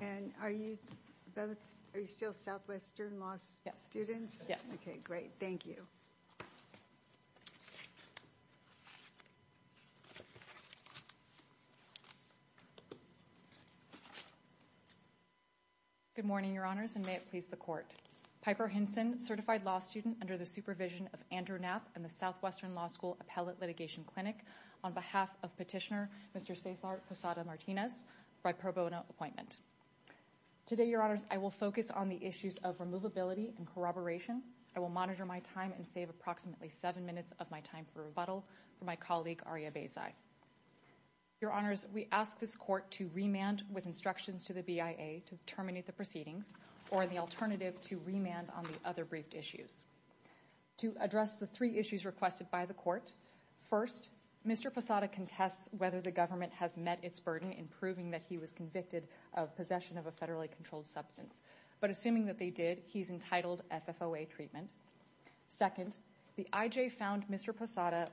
And are you still Southwestern Law students? Yes. Okay, great. Thank you. Good morning, Your Honors, and may it please the Court. Piper Hinson, certified law student under the supervision of Andrew Knapp and the Southwestern Law School Appellate Litigation Clinic, on behalf of Petitioner Mr. Cesar Posada Martinez, for a pro bono appointment. Today, Your Honors, I will focus on the issues of removability and corroboration. I will monitor my time and save approximately seven minutes of my time for rebuttal from my colleague Aria Beyzaie. Your Honors, we ask this Court to remand with instructions to the BIA to terminate the proceedings or the alternative to remand on the other briefed issues. To start, Mr. Posada contests whether the government has met its burden in proving that he was convicted of possession of a federally controlled substance, but assuming that they did, he's entitled FFOA treatment. Second, the IJ found Mr. Posada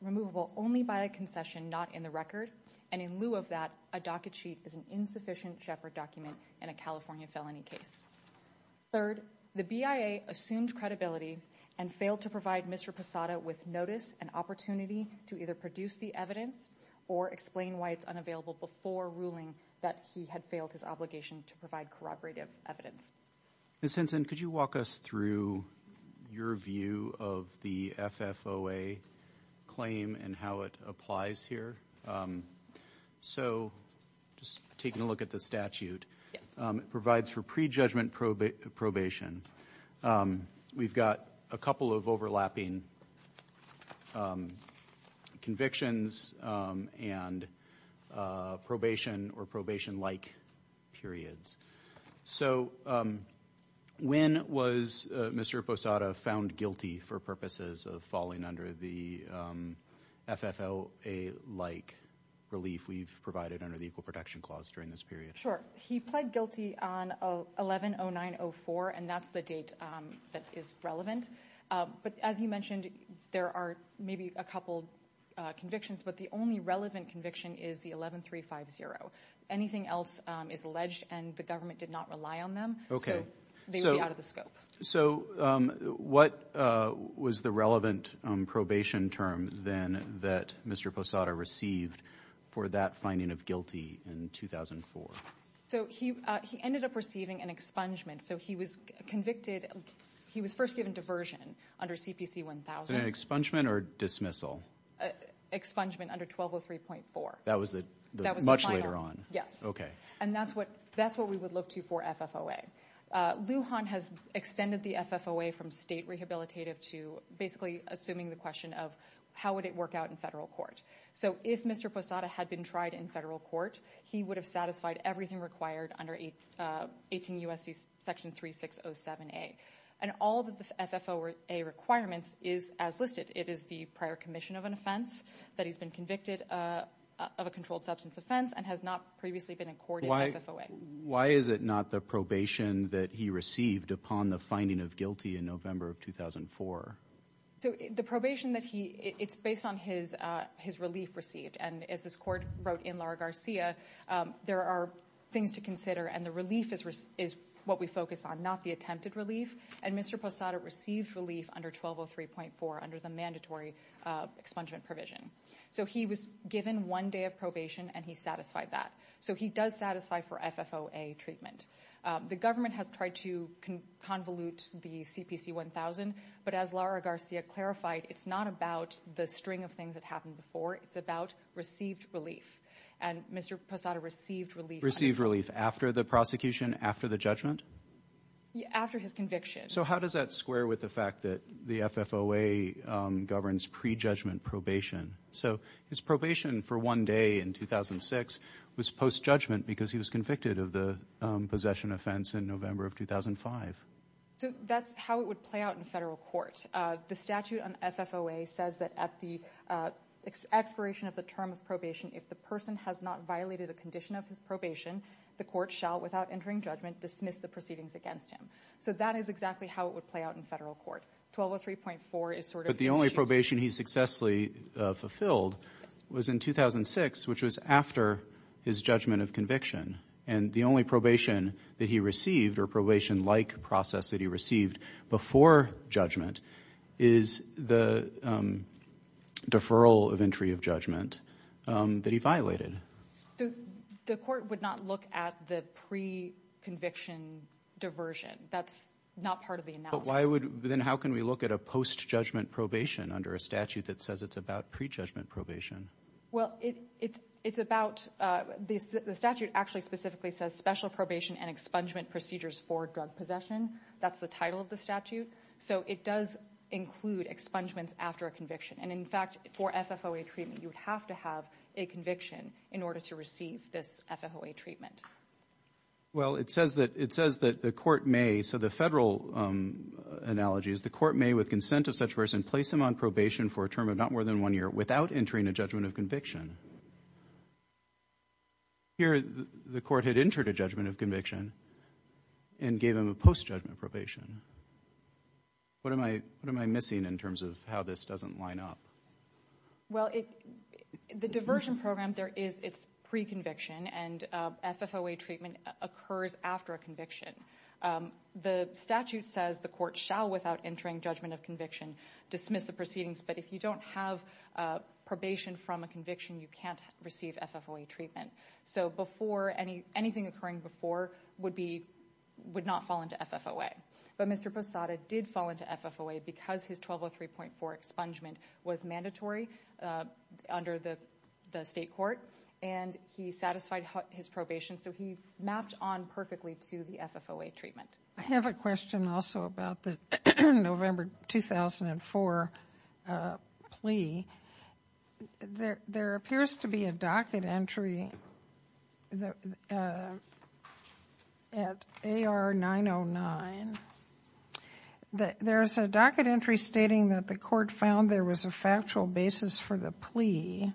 removable only by a concession, not in the record, and in lieu of that, a docket sheet is an insufficient Shepard document in a California felony case. Third, the BIA assumed credibility and failed to provide Mr. Posada with notice and opportunity to either produce the evidence or explain why it's unavailable before ruling that he had failed his obligation to provide corroborative evidence. Ms. Hinson, could you walk us through your view of the FFOA claim and how it applies here? So, just taking a look at the statute, it provides for prejudgment probation. We've got a couple of overlapping convictions and probation or probation-like periods. So, when was Mr. Posada found guilty for purposes of falling under the FFOA-like relief we've provided under the Equal Protection Clause during this period? Sure. He pled guilty on 11-09-04, and that's the date that is relevant. But as you mentioned, there are maybe a couple convictions, but the only relevant conviction is the 11-350. Anything else is alleged and the government did not rely on them, so they would be out of the scope. So, what was the relevant probation term then that Mr. Posada received for that finding of guilty in 2004? So, he ended up receiving an expungement. So, he was convicted, he was first given diversion under CPC-1000. An expungement or dismissal? Expungement under 1203.4. That was much later on? Yes. Okay. And that's what we would look to for FFOA. Lujan has extended the FFOA from state rehabilitative to basically assuming the question of how would it work out in federal court. So, if Mr. Posada had been tried in federal court, he would have satisfied everything required under 18 U.S.C. Section 3607A. And all the FFOA requirements is as listed. It is the prior commission of an offense that he's been convicted of a controlled substance offense and has not previously been accorded FFOA. Why is it not the probation that he received upon the finding of guilty in November of 2004? So, the probation it's based on his relief received. And as this court wrote in Laura Garcia, there are things to consider and the relief is what we focus on, not the attempted relief. And Mr. Posada received relief under 1203.4 under the mandatory expungement provision. So, he was given one day of probation and he satisfied that. So, he does satisfy for FFOA treatment. The government has tried to convolute the CPC-1000. But as Laura Garcia clarified, it's not about the string of things that happened before. It's about received relief. And Mr. Posada received relief. Received relief after the prosecution, after the judgment? After his conviction. So, how does that square with the fact that the FFOA governs pre-judgment probation? So, his probation for one day in 2006 was post because he was convicted of the possession offense in November of 2005. So, that's how it would play out in federal court. The statute on FFOA says that at the expiration of the term of probation, if the person has not violated a condition of his probation, the court shall, without entering judgment, dismiss the proceedings against him. So, that is exactly how it would play out in federal court. 1203.4 is sort of... But the only probation he successfully fulfilled was in 2006, which was after his judgment of conviction. And the only probation that he received or probation-like process that he received before judgment is the deferral of entry of judgment that he violated. The court would not look at the pre-conviction diversion. That's not part of the analysis. Then how can we look at a post-judgment probation under a statute that it's about pre-judgment probation? Well, it's about... The statute actually specifically says special probation and expungement procedures for drug possession. That's the title of the statute. So, it does include expungements after a conviction. And in fact, for FFOA treatment, you would have to have a conviction in order to receive this FFOA treatment. Well, it says that the court may... So, the federal analogy is the court may, with consent of such a person, place him on probation for a term of not more than one year without entering a judgment of conviction. Here, the court had entered a judgment of conviction and gave him a post-judgment probation. What am I missing in terms of how this doesn't line up? Well, the diversion program, it's pre-conviction and FFOA treatment occurs after a conviction. The statute says the court shall, without entering judgment of conviction, dismiss the proceedings. But if you don't have probation from a conviction, you can't receive FFOA treatment. So, anything occurring before would not fall into FFOA. But Mr. Posada did fall into FFOA because his 1203.4 expungement was mandatory under the state court. And he satisfied his probation. So, he mapped on perfectly to the FFOA treatment. I have a question also about the November 2004 plea. There appears to be a docket entry at AR 909. There's a docket entry stating that the court found there was a factual basis for plea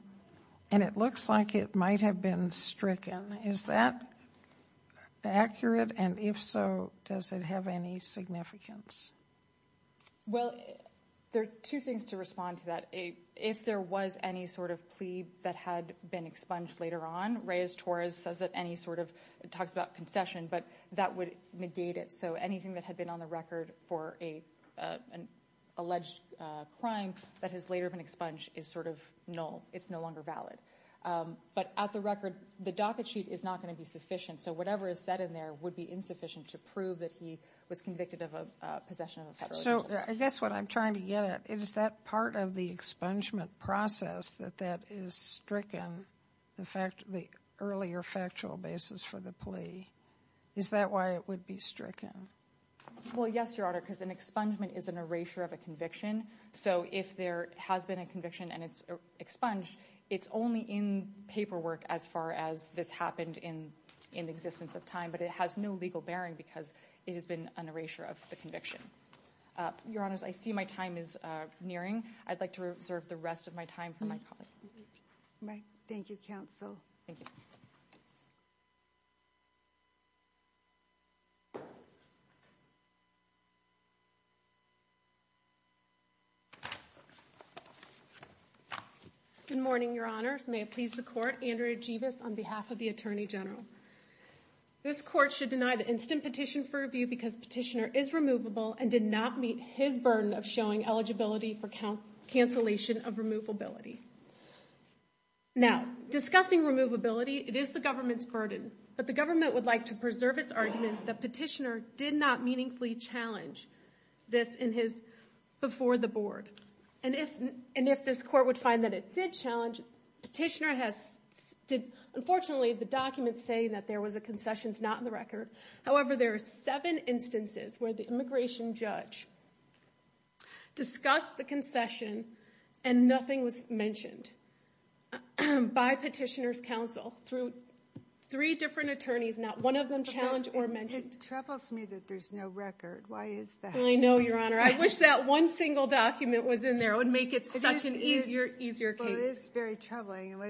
and it looks like it might have been stricken. Is that accurate? And if so, does it have any significance? Well, there are two things to respond to that. If there was any sort of plea that had been expunged later on, Reyes-Torres says that any sort of, it talks about concession, but that would negate it. So, anything that had been on the record for an alleged crime that has later been expunged is sort of null. It's no longer valid. But at the record, the docket sheet is not going to be sufficient. So, whatever is said in there would be insufficient to prove that he was convicted of a possession of a federal agency. So, I guess what I'm trying to get at, is that part of the expungement process that that is stricken, the earlier factual basis for the plea, is that why it would be stricken? Well, yes, Your Honor, because an expungement is an erasure of a conviction. So, if there has been a conviction and it's expunged, it's only in paperwork as far as this happened in the existence of time, but it has no legal bearing because it has been an erasure of the conviction. Your Honors, I see my time is nearing. I'd like to reserve the rest of my time for my colleague. Thank you, counsel. Good morning, Your Honors. May it please the Court, Andrea Jebus on behalf of the Attorney General. This Court should deny the instant petition for review because petitioner is and did not meet his burden of showing eligibility for cancellation of removability. Now, discussing removability, it is the government's burden, but the government would like to preserve its argument that petitioner did not meaningfully challenge this before the Board. And if this Court would find that it did challenge, unfortunately, the documents say that there was a concessions not in the record. However, there are seven instances where the immigration judge discussed the concession and nothing was mentioned by petitioner's counsel through three different attorneys, not one of them challenged or mentioned. It troubles me that there's no record. Why is that? I know, Your Honor. I wish that one single document was in there. It would make it such an easier case. Well, it is very troubling.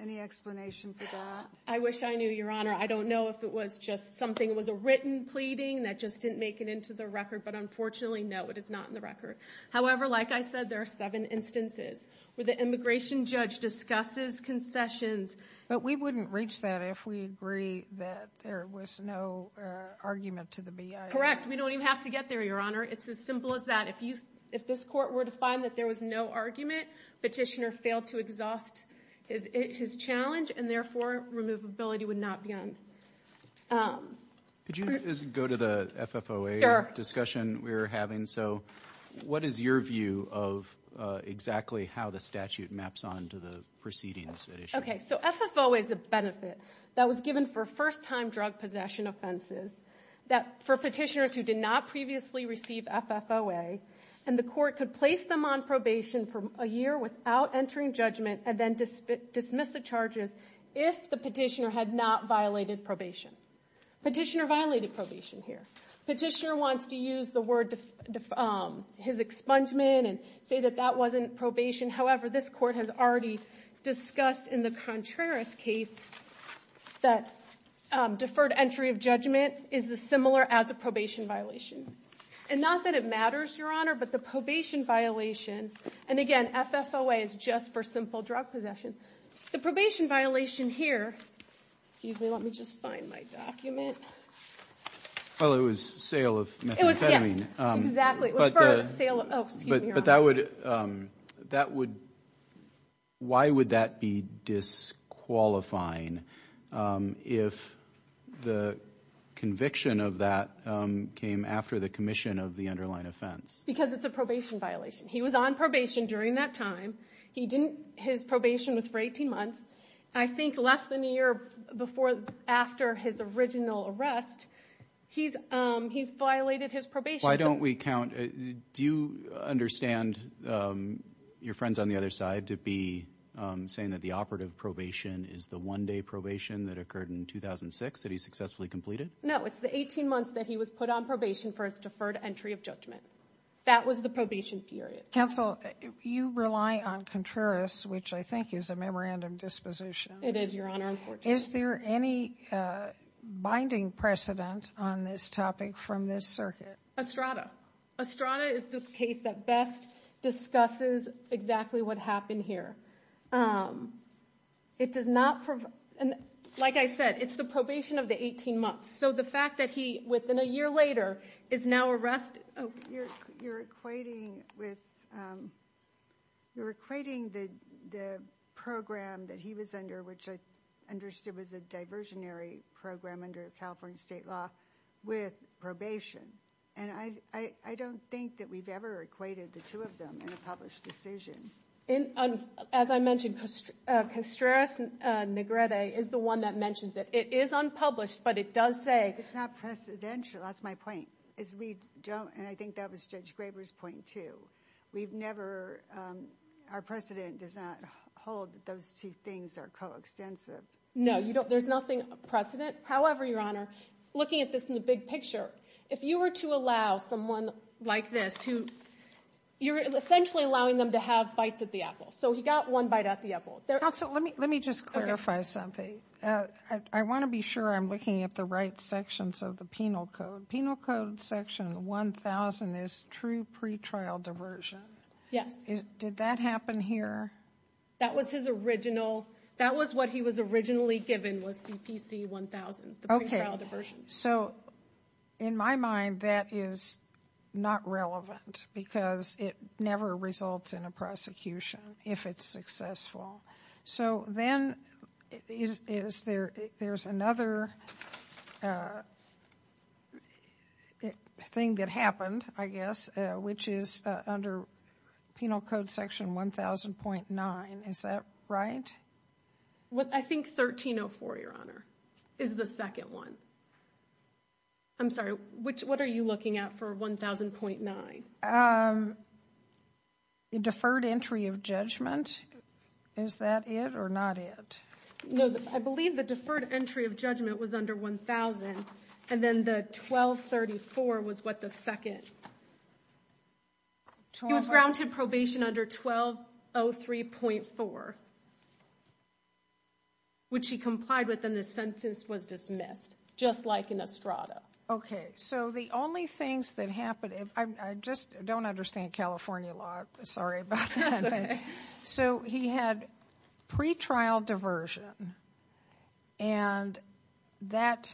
Any explanation for that? I wish I knew, Your Honor. I don't know if it was just something. It was a written pleading that just didn't make it into the record, but unfortunately, no, it is not in the record. However, like I said, there are seven instances where the immigration judge discusses concessions. But we wouldn't reach that if we agree that there was no argument to the BIA. Correct. We don't even have to get there, Your Honor. It's as simple as that. If you, if this Court were to find that there was no argument, petitioner failed to exhaust his challenge and therefore, removability would not be on. Could you just go to the FFOA discussion we're having? So what is your view of exactly how the statute maps on to the proceedings at issue? Okay, so FFOA is a benefit that was given for first-time drug possession offenses that for petitioners who did not previously receive FFOA and the court could place them on probation for a year without entering judgment and then dismiss the charges if the petitioner had not violated probation. Petitioner violated probation here. Petitioner wants to use the word his expungement and say that that wasn't probation. However, this Court has already discussed in the Contreras case that deferred entry of judgment is similar as a probation violation and not that it matters, Your Honor, but the probation violation and again, FFOA is just for simple drug possession. The probation violation here, excuse me, let me just find my document. Well, it was sale of methamphetamine. Yes, exactly. Oh, excuse me, Your Honor. But that would, that would, why would that be disqualifying if the conviction of that came after the commission of the underlying offense? Because it's a probation violation. He was on probation during that time. He didn't, his probation was for 18 months. I think less than a year before, after his original arrest, he's violated his probation. Why don't we count, do you understand your friends on the other side to be saying that the operative probation is the one-day probation that occurred in 2006 that he successfully completed? No, it's the 18 months that he was put on probation for his deferred entry of judgment. That was the probation period. Counsel, you rely on Contreras, which I think is a memorandum disposition. It is, Your Honor, unfortunately. Is there any binding precedent on this topic from this circuit? Estrada. Estrada is the case that best discusses exactly what happened here. It does not, like I said, it's the probation of the 18 months. So the fact that he, within a year later, is now arrested. You're equating with, you're equating the program that he was under, which I understood was a diversionary program under California state law, with probation. And I don't think that we've ever equated the two of them in a published decision. As I mentioned, Contreras Negrete is the one that mentions it. It is unpublished, but it does say. It's not precedential. That's my point. As we don't, and I think that was Judge Graber's point too. We've never, our precedent does not hold that those two things are coextensive. No, there's nothing precedent. However, Your Honor, looking at this in the big picture, if you were to allow someone like this who, you're essentially allowing them to have bites at the apple. So he got one bite at the apple. Counsel, let me just clarify something. I want to be sure I'm looking at the right sections of the penal code. Penal code section 1000 is true pretrial diversion. Yes. Did that happen here? That was his original. That was what he was originally given was CPC 1000, the pretrial diversion. So in my mind, that is not relevant because it never results in a prosecution if it's successful. So then is there, there's another thing that happened, I guess, which is under penal code section 1000.9. Is that right? Well, I think 1304, Your Honor, is the second one. I'm sorry, which, what are you looking at for 1000.9? The deferred entry of judgment. Is that it or not it? No, I believe the deferred entry of judgment was under 1000. And then the 1234 was what the second. It was grounded probation under 1203.4, which he complied with and the sentence was dismissed, just like in Estrada. Okay, so the only things that happened, I just don't understand California law. Sorry about that. So he had pretrial diversion and that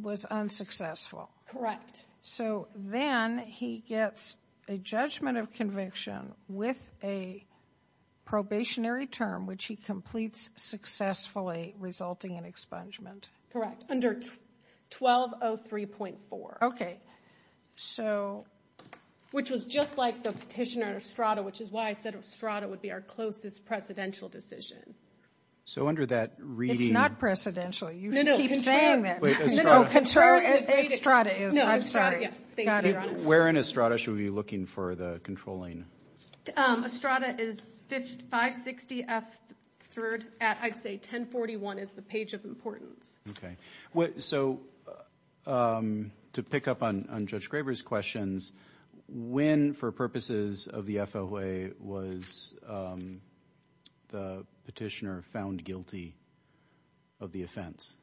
was unsuccessful. Correct. So then he gets a judgment of conviction with a probationary term, which he completes successfully, resulting in expungement. Correct, under 1203.4. Okay, so. Which was just like the petitioner Estrada, which is why I said Estrada would be our closest precedential decision. So under that reading. It's not precedential. You should keep saying that. No, no, Estrada is, I'm sorry. Where in Estrada should we be looking for the controlling? Estrada is 560F3rd at, I'd say 1041 is the page of importance. Okay, so to pick up on Judge Graber's questions, when for purposes of the FOA was the petitioner found guilty of the offense?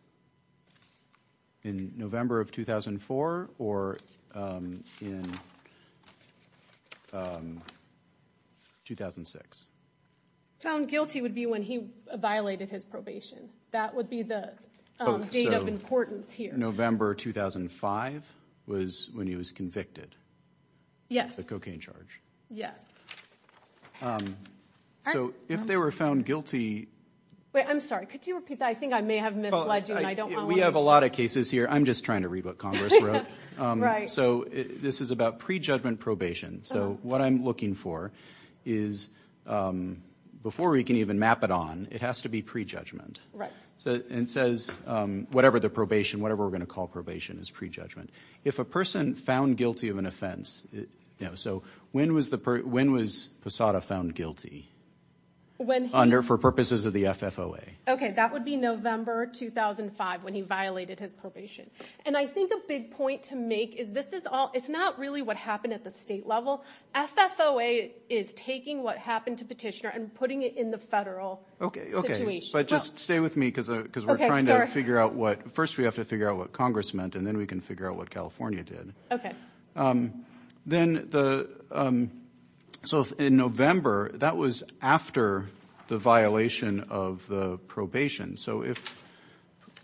In November of 2004 or in 2006? Found guilty would be when he violated his probation. That would be the date of importance here. November 2005 was when he was convicted. Yes. The cocaine charge. Yes. So if they were found guilty. Wait, I'm sorry, could you repeat that? I think I may have misled you. We have a lot of cases here. I'm just trying to read what Congress wrote. Right. So this is a pre-judgment probation. So what I'm looking for is, before we can even map it on, it has to be pre-judgment. Right. And it says whatever the probation, whatever we're going to call probation is pre-judgment. If a person found guilty of an offense, so when was Posada found guilty? Under, for purposes of the FFOA. Okay, that would be November 2005 when he violated his probation. And I think a big point to make is this is all, it's not really what happened at the state level. FFOA is taking what happened to petitioner and putting it in the federal. Okay. Okay. But just stay with me because we're trying to figure out what, first we have to figure out what Congress meant and then we can figure out what California did. Okay. Then the, so in November, that was after the violation of the probation. So if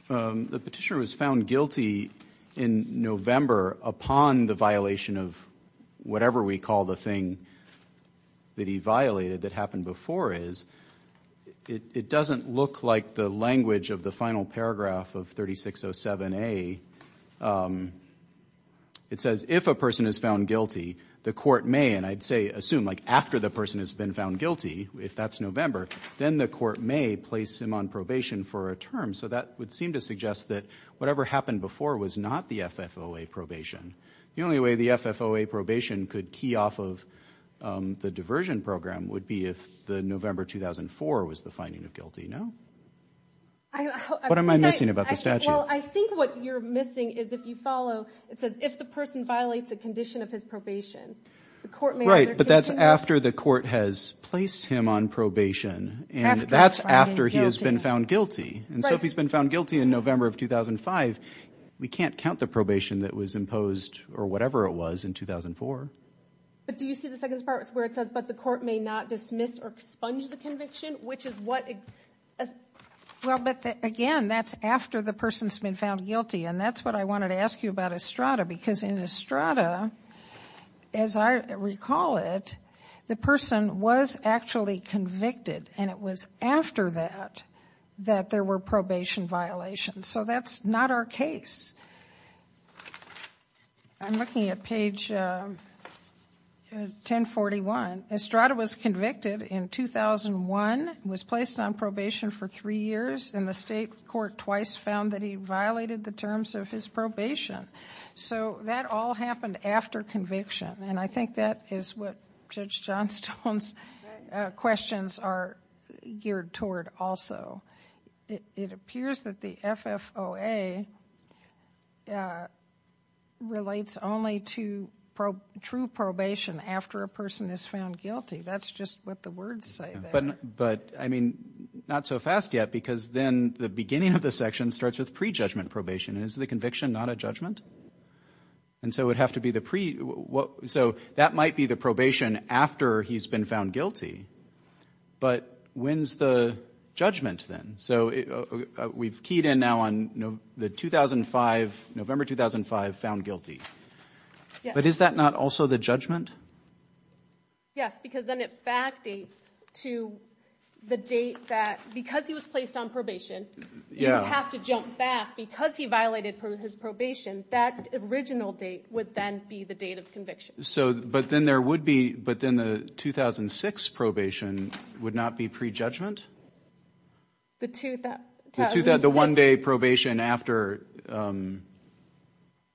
the petitioner was found guilty in November upon the violation of whatever we call the thing that he violated that happened before is, it doesn't look like the language of the final paragraph of 3607A. It says, if a person is found guilty, the court may, and I'd say assume like after the person has been found guilty, if that's November, then the court may place him on probation for a term. So that would seem to suggest that whatever happened before was not the FFOA probation. The only way the FFOA probation could key off of the diversion program would be if the November 2004 was the finding of guilty. No? What am I missing about the statute? Well, I think what you're missing is if you follow, it says if the person violates a condition of his probation, the court may. Right, but that's after the court has placed him on probation and that's after he has been found guilty. And so if he's been found guilty in November of 2005, we can't count the probation that was imposed or whatever it was in 2004. But do you see the second part where it says, but the court may not dismiss or expunge the conviction, which is what? Well, but again, that's after the person's been found guilty and that's what I wanted to ask you about Estrada because in Estrada, as I recall it, the person was actually convicted and it was after that that there were probation violations. So that's not our case. I'm looking at page 1041. Estrada was convicted in 2001, was placed on probation for three years, and the state court twice found that he violated the terms of his probation. So that all happened after conviction. And I think that is what Judge Johnstone's questions are geared toward also. It appears that the FFOA relates only to true probation after a person is found guilty. That's just what the words say. But I mean, not so fast yet, because then the beginning of the section starts with pre-judgment probation. Is the conviction not a judgment? And so that might be the probation after he's been found guilty. But when's the judgment then? So we've keyed in now on November 2005, found guilty. But is that not also the judgment? Yes, because then it to the date that, because he was placed on probation, you have to jump back because he violated his probation, that original date would then be the date of conviction. So, but then there would be, but then the 2006 probation would not be pre-judgment? The one-day probation after.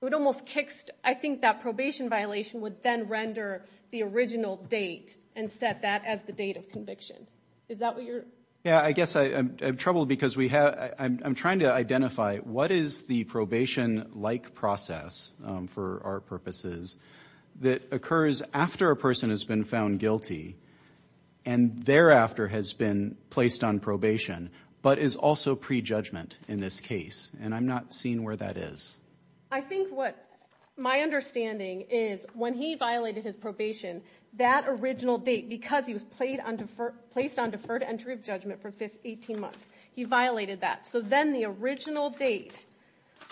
It almost kicks, I think that probation violation would then render the original date and set that as the date of conviction. Is that what you're... Yeah, I guess I'm troubled because we have, I'm trying to identify what is the probation-like process for our purposes that occurs after a person has been found guilty and thereafter has been placed on probation, but is also pre-judgment in this case. And I'm not seeing where that is. I think what my understanding is when he violated his probation, that original date, because he was placed on deferred entry of judgment for 18 months, he violated that. So then the original date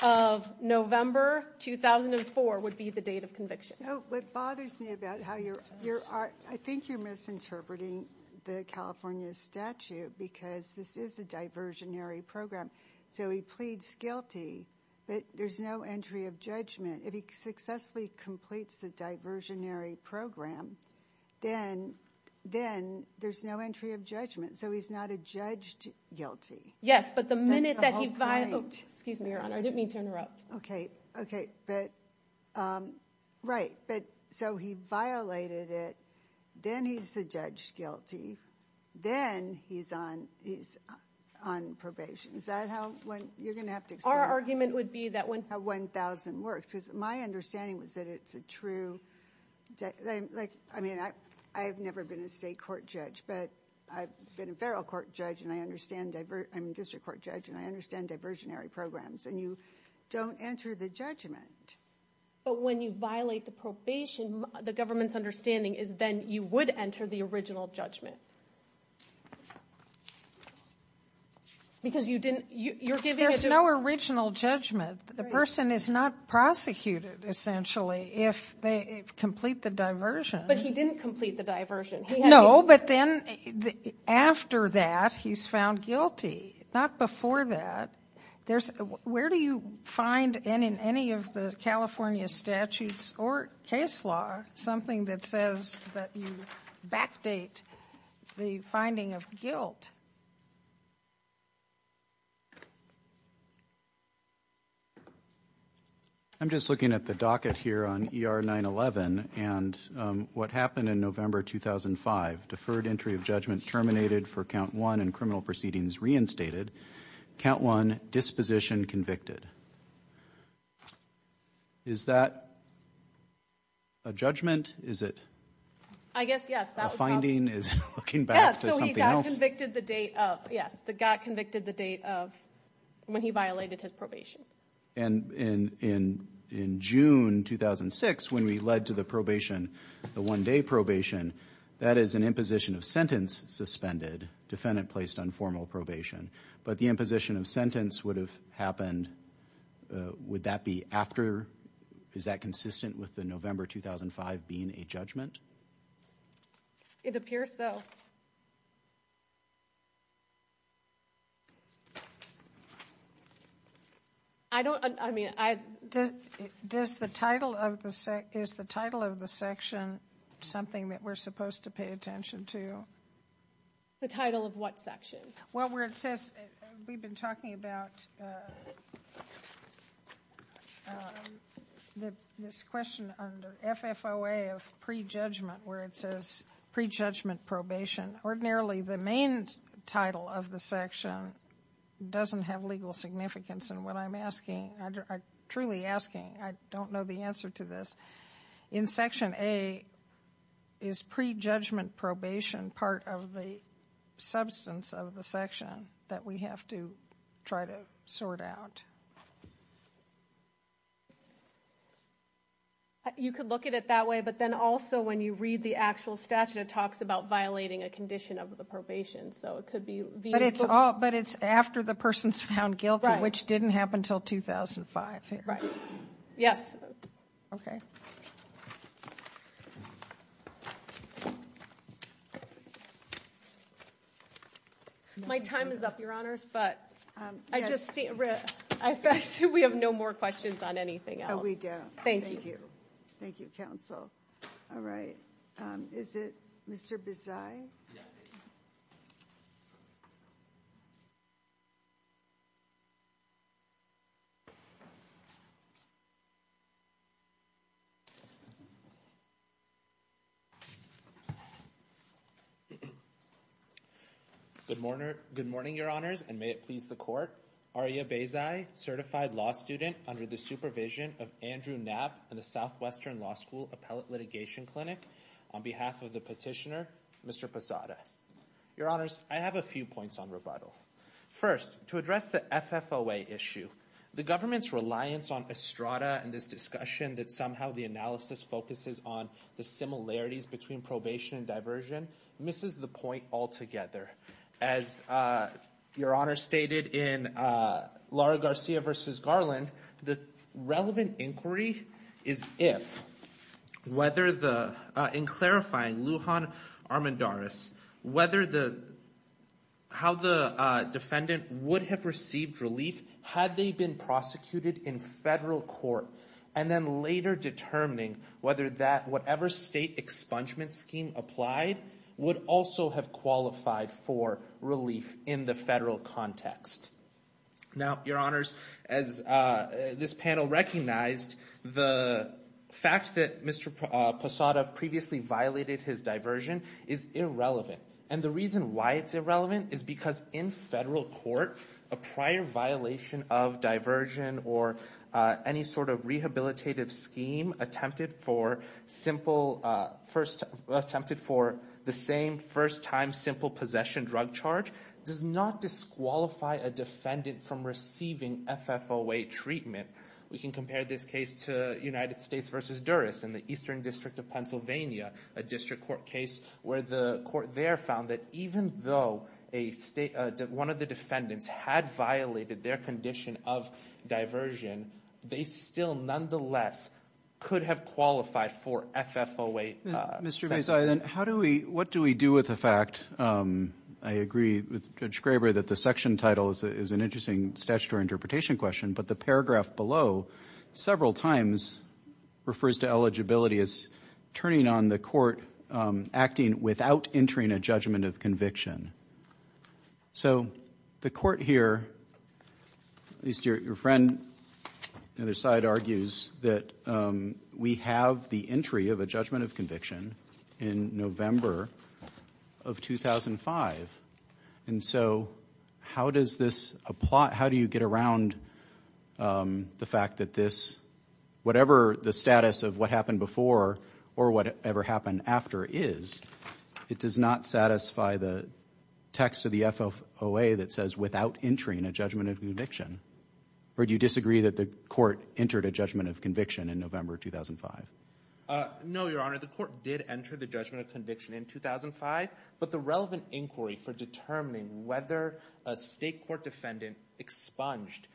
of November 2004 would be the date of conviction. Oh, what bothers me about how you're, I think you're misinterpreting the California statute because this is a diversionary program. So he pleads guilty, but there's no entry of judgment. If he successfully completes the diversionary program, then there's no entry of judgment. So he's not a judged guilty. Yes, but the minute that he violated, excuse me, Your Honor, I didn't mean to interrupt. Okay. Okay. But right. But so he violated it. Then he's a judged guilty. Then he's on, he's on probation. Is that how, you're going to have to explain how 1,000 works. Because my understanding was that it's a true, like, I mean, I've never been a state court judge, but I've been a federal court judge and I understand, I'm a district court judge and I understand enter the judgment. But when you violate the probation, the government's understanding is then you would enter the original judgment. Because you didn't, you're giving. There's no original judgment. The person is not prosecuted essentially if they complete the diversion. But he didn't complete the diversion. No, but then after that, he's found guilty. Not before that. There's, where do you find in, in any of the California statutes or case law, something that says that you backdate the finding of guilt? I'm just looking at the docket here on ER 911 and what happened in November 2005, deferred entry of judgment terminated for count one and criminal proceedings reinstated. Count one disposition convicted. Is that a judgment? Is it? I guess, yes. That finding is looking back to something else. He got convicted the date of, yes, the got convicted the date of when he violated his probation. And in, in, in June 2006, when we the probation, the one day probation, that is an imposition of sentence suspended. Defendant placed on formal probation. But the imposition of sentence would have happened, would that be after, is that consistent with the November 2005 being a judgment? It appears so. I don't, I mean, I, does, does the title of the, is the title of the section something that we're supposed to pay attention to? The title of what section? Well, where it says, we've been talking about the, this question under FFOA of pre-judgment where it says pre-judgment probation. Ordinarily, the main title of the section doesn't have legal significance. And what I'm asking, truly asking, I don't know the answer to this. In section A, is pre-judgment probation part of the substance of the section that we have to try to sort out? You could look at it that way, but then also when you read the actual statute, it talks about violating a condition of the probation. So it could be. But it's all, but it's after the person's found guilty, which didn't happen until 2005. Right. Yes. Okay. My time is up, Your Honors, but I just, we have no more questions on anything else. No, we don't. Thank you. Thank you. Thank you, counsel. All right. Is it Mr. Bezaie? Good morning, Your Honors, and may it please the court. Aria Bezaie, certified law student under the supervision of Andrew Knapp and the Southwestern Law School Appellate Litigation Clinic. On behalf of the petitioner, Mr. Posada. Your Honors, I have a few points on rebuttal. First, to address the FFOA issue, the government's reliance on Estrada and this discussion that somehow the analysis focuses on the similarities between probation and diversion misses the point altogether. As Your Honor stated in Laura Garcia versus Garland, the relevant inquiry is if, whether the, in clarifying Lujan Armendariz, whether the, how the defendant would have received relief had they been prosecuted in federal court, and then later determining whether that, whatever state expungement scheme applied, would also have qualified for relief in the federal context. Now, Your Honors, as this panel recognized, the fact that Mr. Posada previously violated his diversion is irrelevant. And the reason why it's irrelevant is because in federal court, a prior violation of diversion or any sort of rehabilitative scheme attempted for simple first, attempted for the same first time simple possession drug charge does not disqualify a defendant from receiving FFOA treatment. We can compare this case to United States versus Durris in the Eastern District of Pennsylvania, a district court case where the court there found that even though a state, one of the defendants had violated their condition of diversion, they still nonetheless could have qualified for FFOA. Mr. Mazai, how do we, what do we do with the fact, I agree with Judge Graber that the section title is an interesting statutory interpretation question, but the paragraph below several times refers to eligibility as turning on the court, acting without entering a judgment of conviction. So the court here, at least your friend on the other side argues that we have the entry of a judgment of conviction in November of 2005. And so how does this apply? How do you get around the fact that this, whatever the status of what happened before or whatever happened after is, it does not satisfy the text of the FFOA that says without entering a judgment of conviction? Or do you disagree that the court entered a judgment of conviction in November 2005? No, your honor, the court did enter the judgment of conviction in 2005, but the relevant inquiry for determining whether a state court defendant expunged,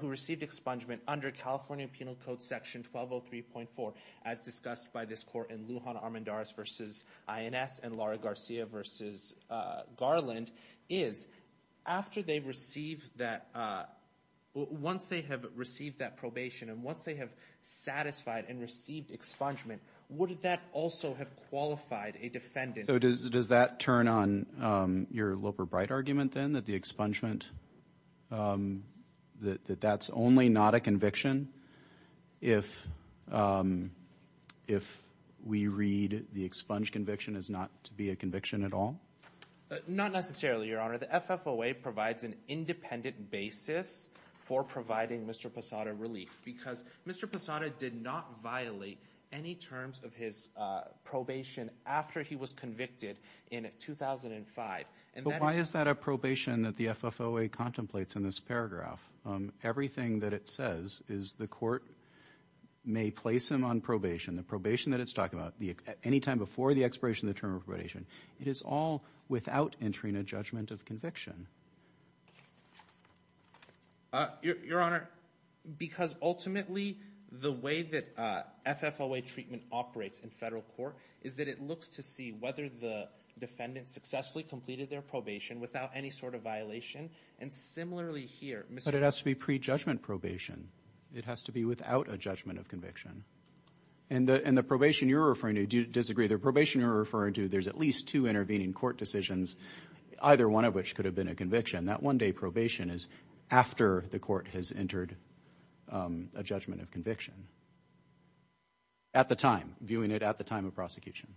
who received expungement under California Penal Code Section 1203.4, as discussed by this court in Lujan Armendariz versus INS and Laura Garcia versus Garland, is after they received that, once they have received that probation and once they have satisfied and received expungement, would that also have qualified a defendant? So does that turn on your Loper-Bright argument then that the expungement, um, that that's only not a conviction if, um, if we read the expunge conviction as not to be a conviction at all? Not necessarily, your honor. The FFOA provides an independent basis for providing Mr. Posada relief because Mr. Posada did not violate any terms of his probation after he was convicted in 2005. But why is that a probation that the FFOA contemplates in this paragraph? Um, everything that it says is the court may place him on probation, the probation that it's talking about, any time before the expiration of the term of probation. It is all without entering a judgment of conviction. Uh, your honor, because ultimately the way that FFOA operates in federal court is that it looks to see whether the defendant successfully completed their probation without any sort of violation. And similarly here, but it has to be pre-judgment probation. It has to be without a judgment of conviction. And the, and the probation you're referring to, do you disagree? The probation you're referring to, there's at least two intervening court decisions, either one of which could have been a conviction. That one day probation is after the court has entered a judgment of conviction. At the time, viewing it at the time of prosecution.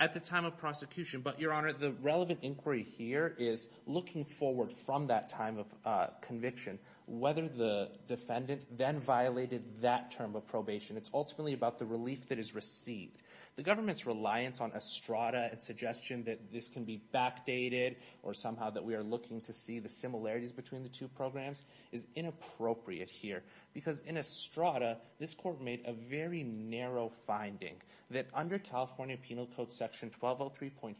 At the time of prosecution, but your honor, the relevant inquiry here is looking forward from that time of conviction, whether the defendant then violated that term of probation. It's ultimately about the relief that is received. The government's reliance on a strata and suggestion that this can be backdated or somehow that we are looking to see the similarities between the two programs is inappropriate here. Because in a strata, this court made a very narrow finding that under California Penal Code section 1203.4,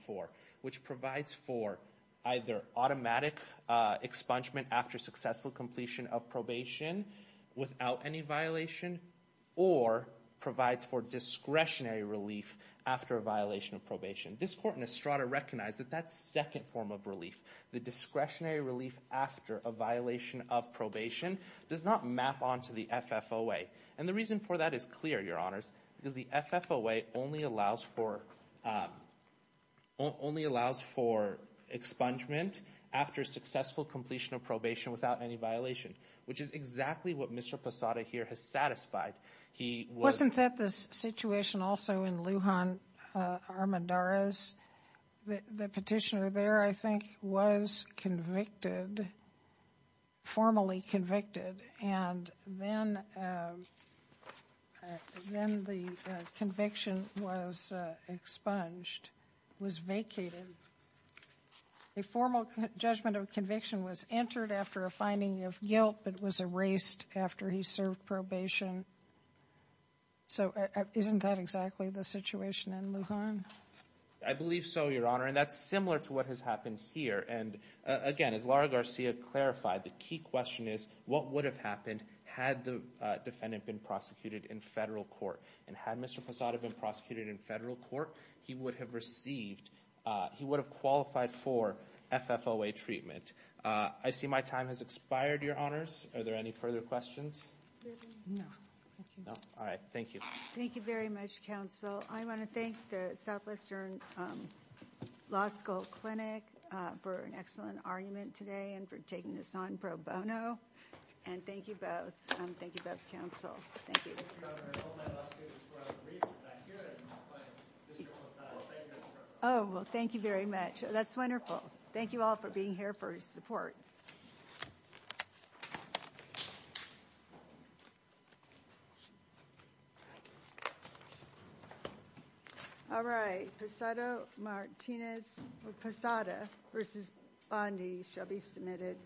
which provides for either automatic expungement after successful completion of probation without any violation or provides for discretionary relief after a violation of probation. This court in discretionary relief after a violation of probation does not map onto the FFOA. And the reason for that is clear, your honors, because the FFOA only allows for expungement after successful completion of probation without any violation, which is exactly what Mr. Posada here has satisfied. Wasn't that the situation also in Lujan Armendariz? The petitioner there, I think, was convicted, formally convicted, and then the conviction was expunged, was vacated. A formal judgment of conviction was entered after a finding of guilt but was erased after he served probation. So isn't that exactly the situation in Lujan? I believe so, your honor, and that's to what has happened here. And again, as Laura Garcia clarified, the key question is what would have happened had the defendant been prosecuted in federal court? And had Mr. Posada been prosecuted in federal court, he would have received, he would have qualified for FFOA treatment. I see my time has expired, your honors. Are there any further questions? No. All right, thank you. Thank you much, counsel. I want to thank the Southwestern Law School Clinic for an excellent argument today and for taking this on pro bono, and thank you both. Thank you both, counsel. Thank you. Oh, well, thank you very much. That's wonderful. Thank you all for being here for your support. All right, Posada versus Bondi shall be submitted.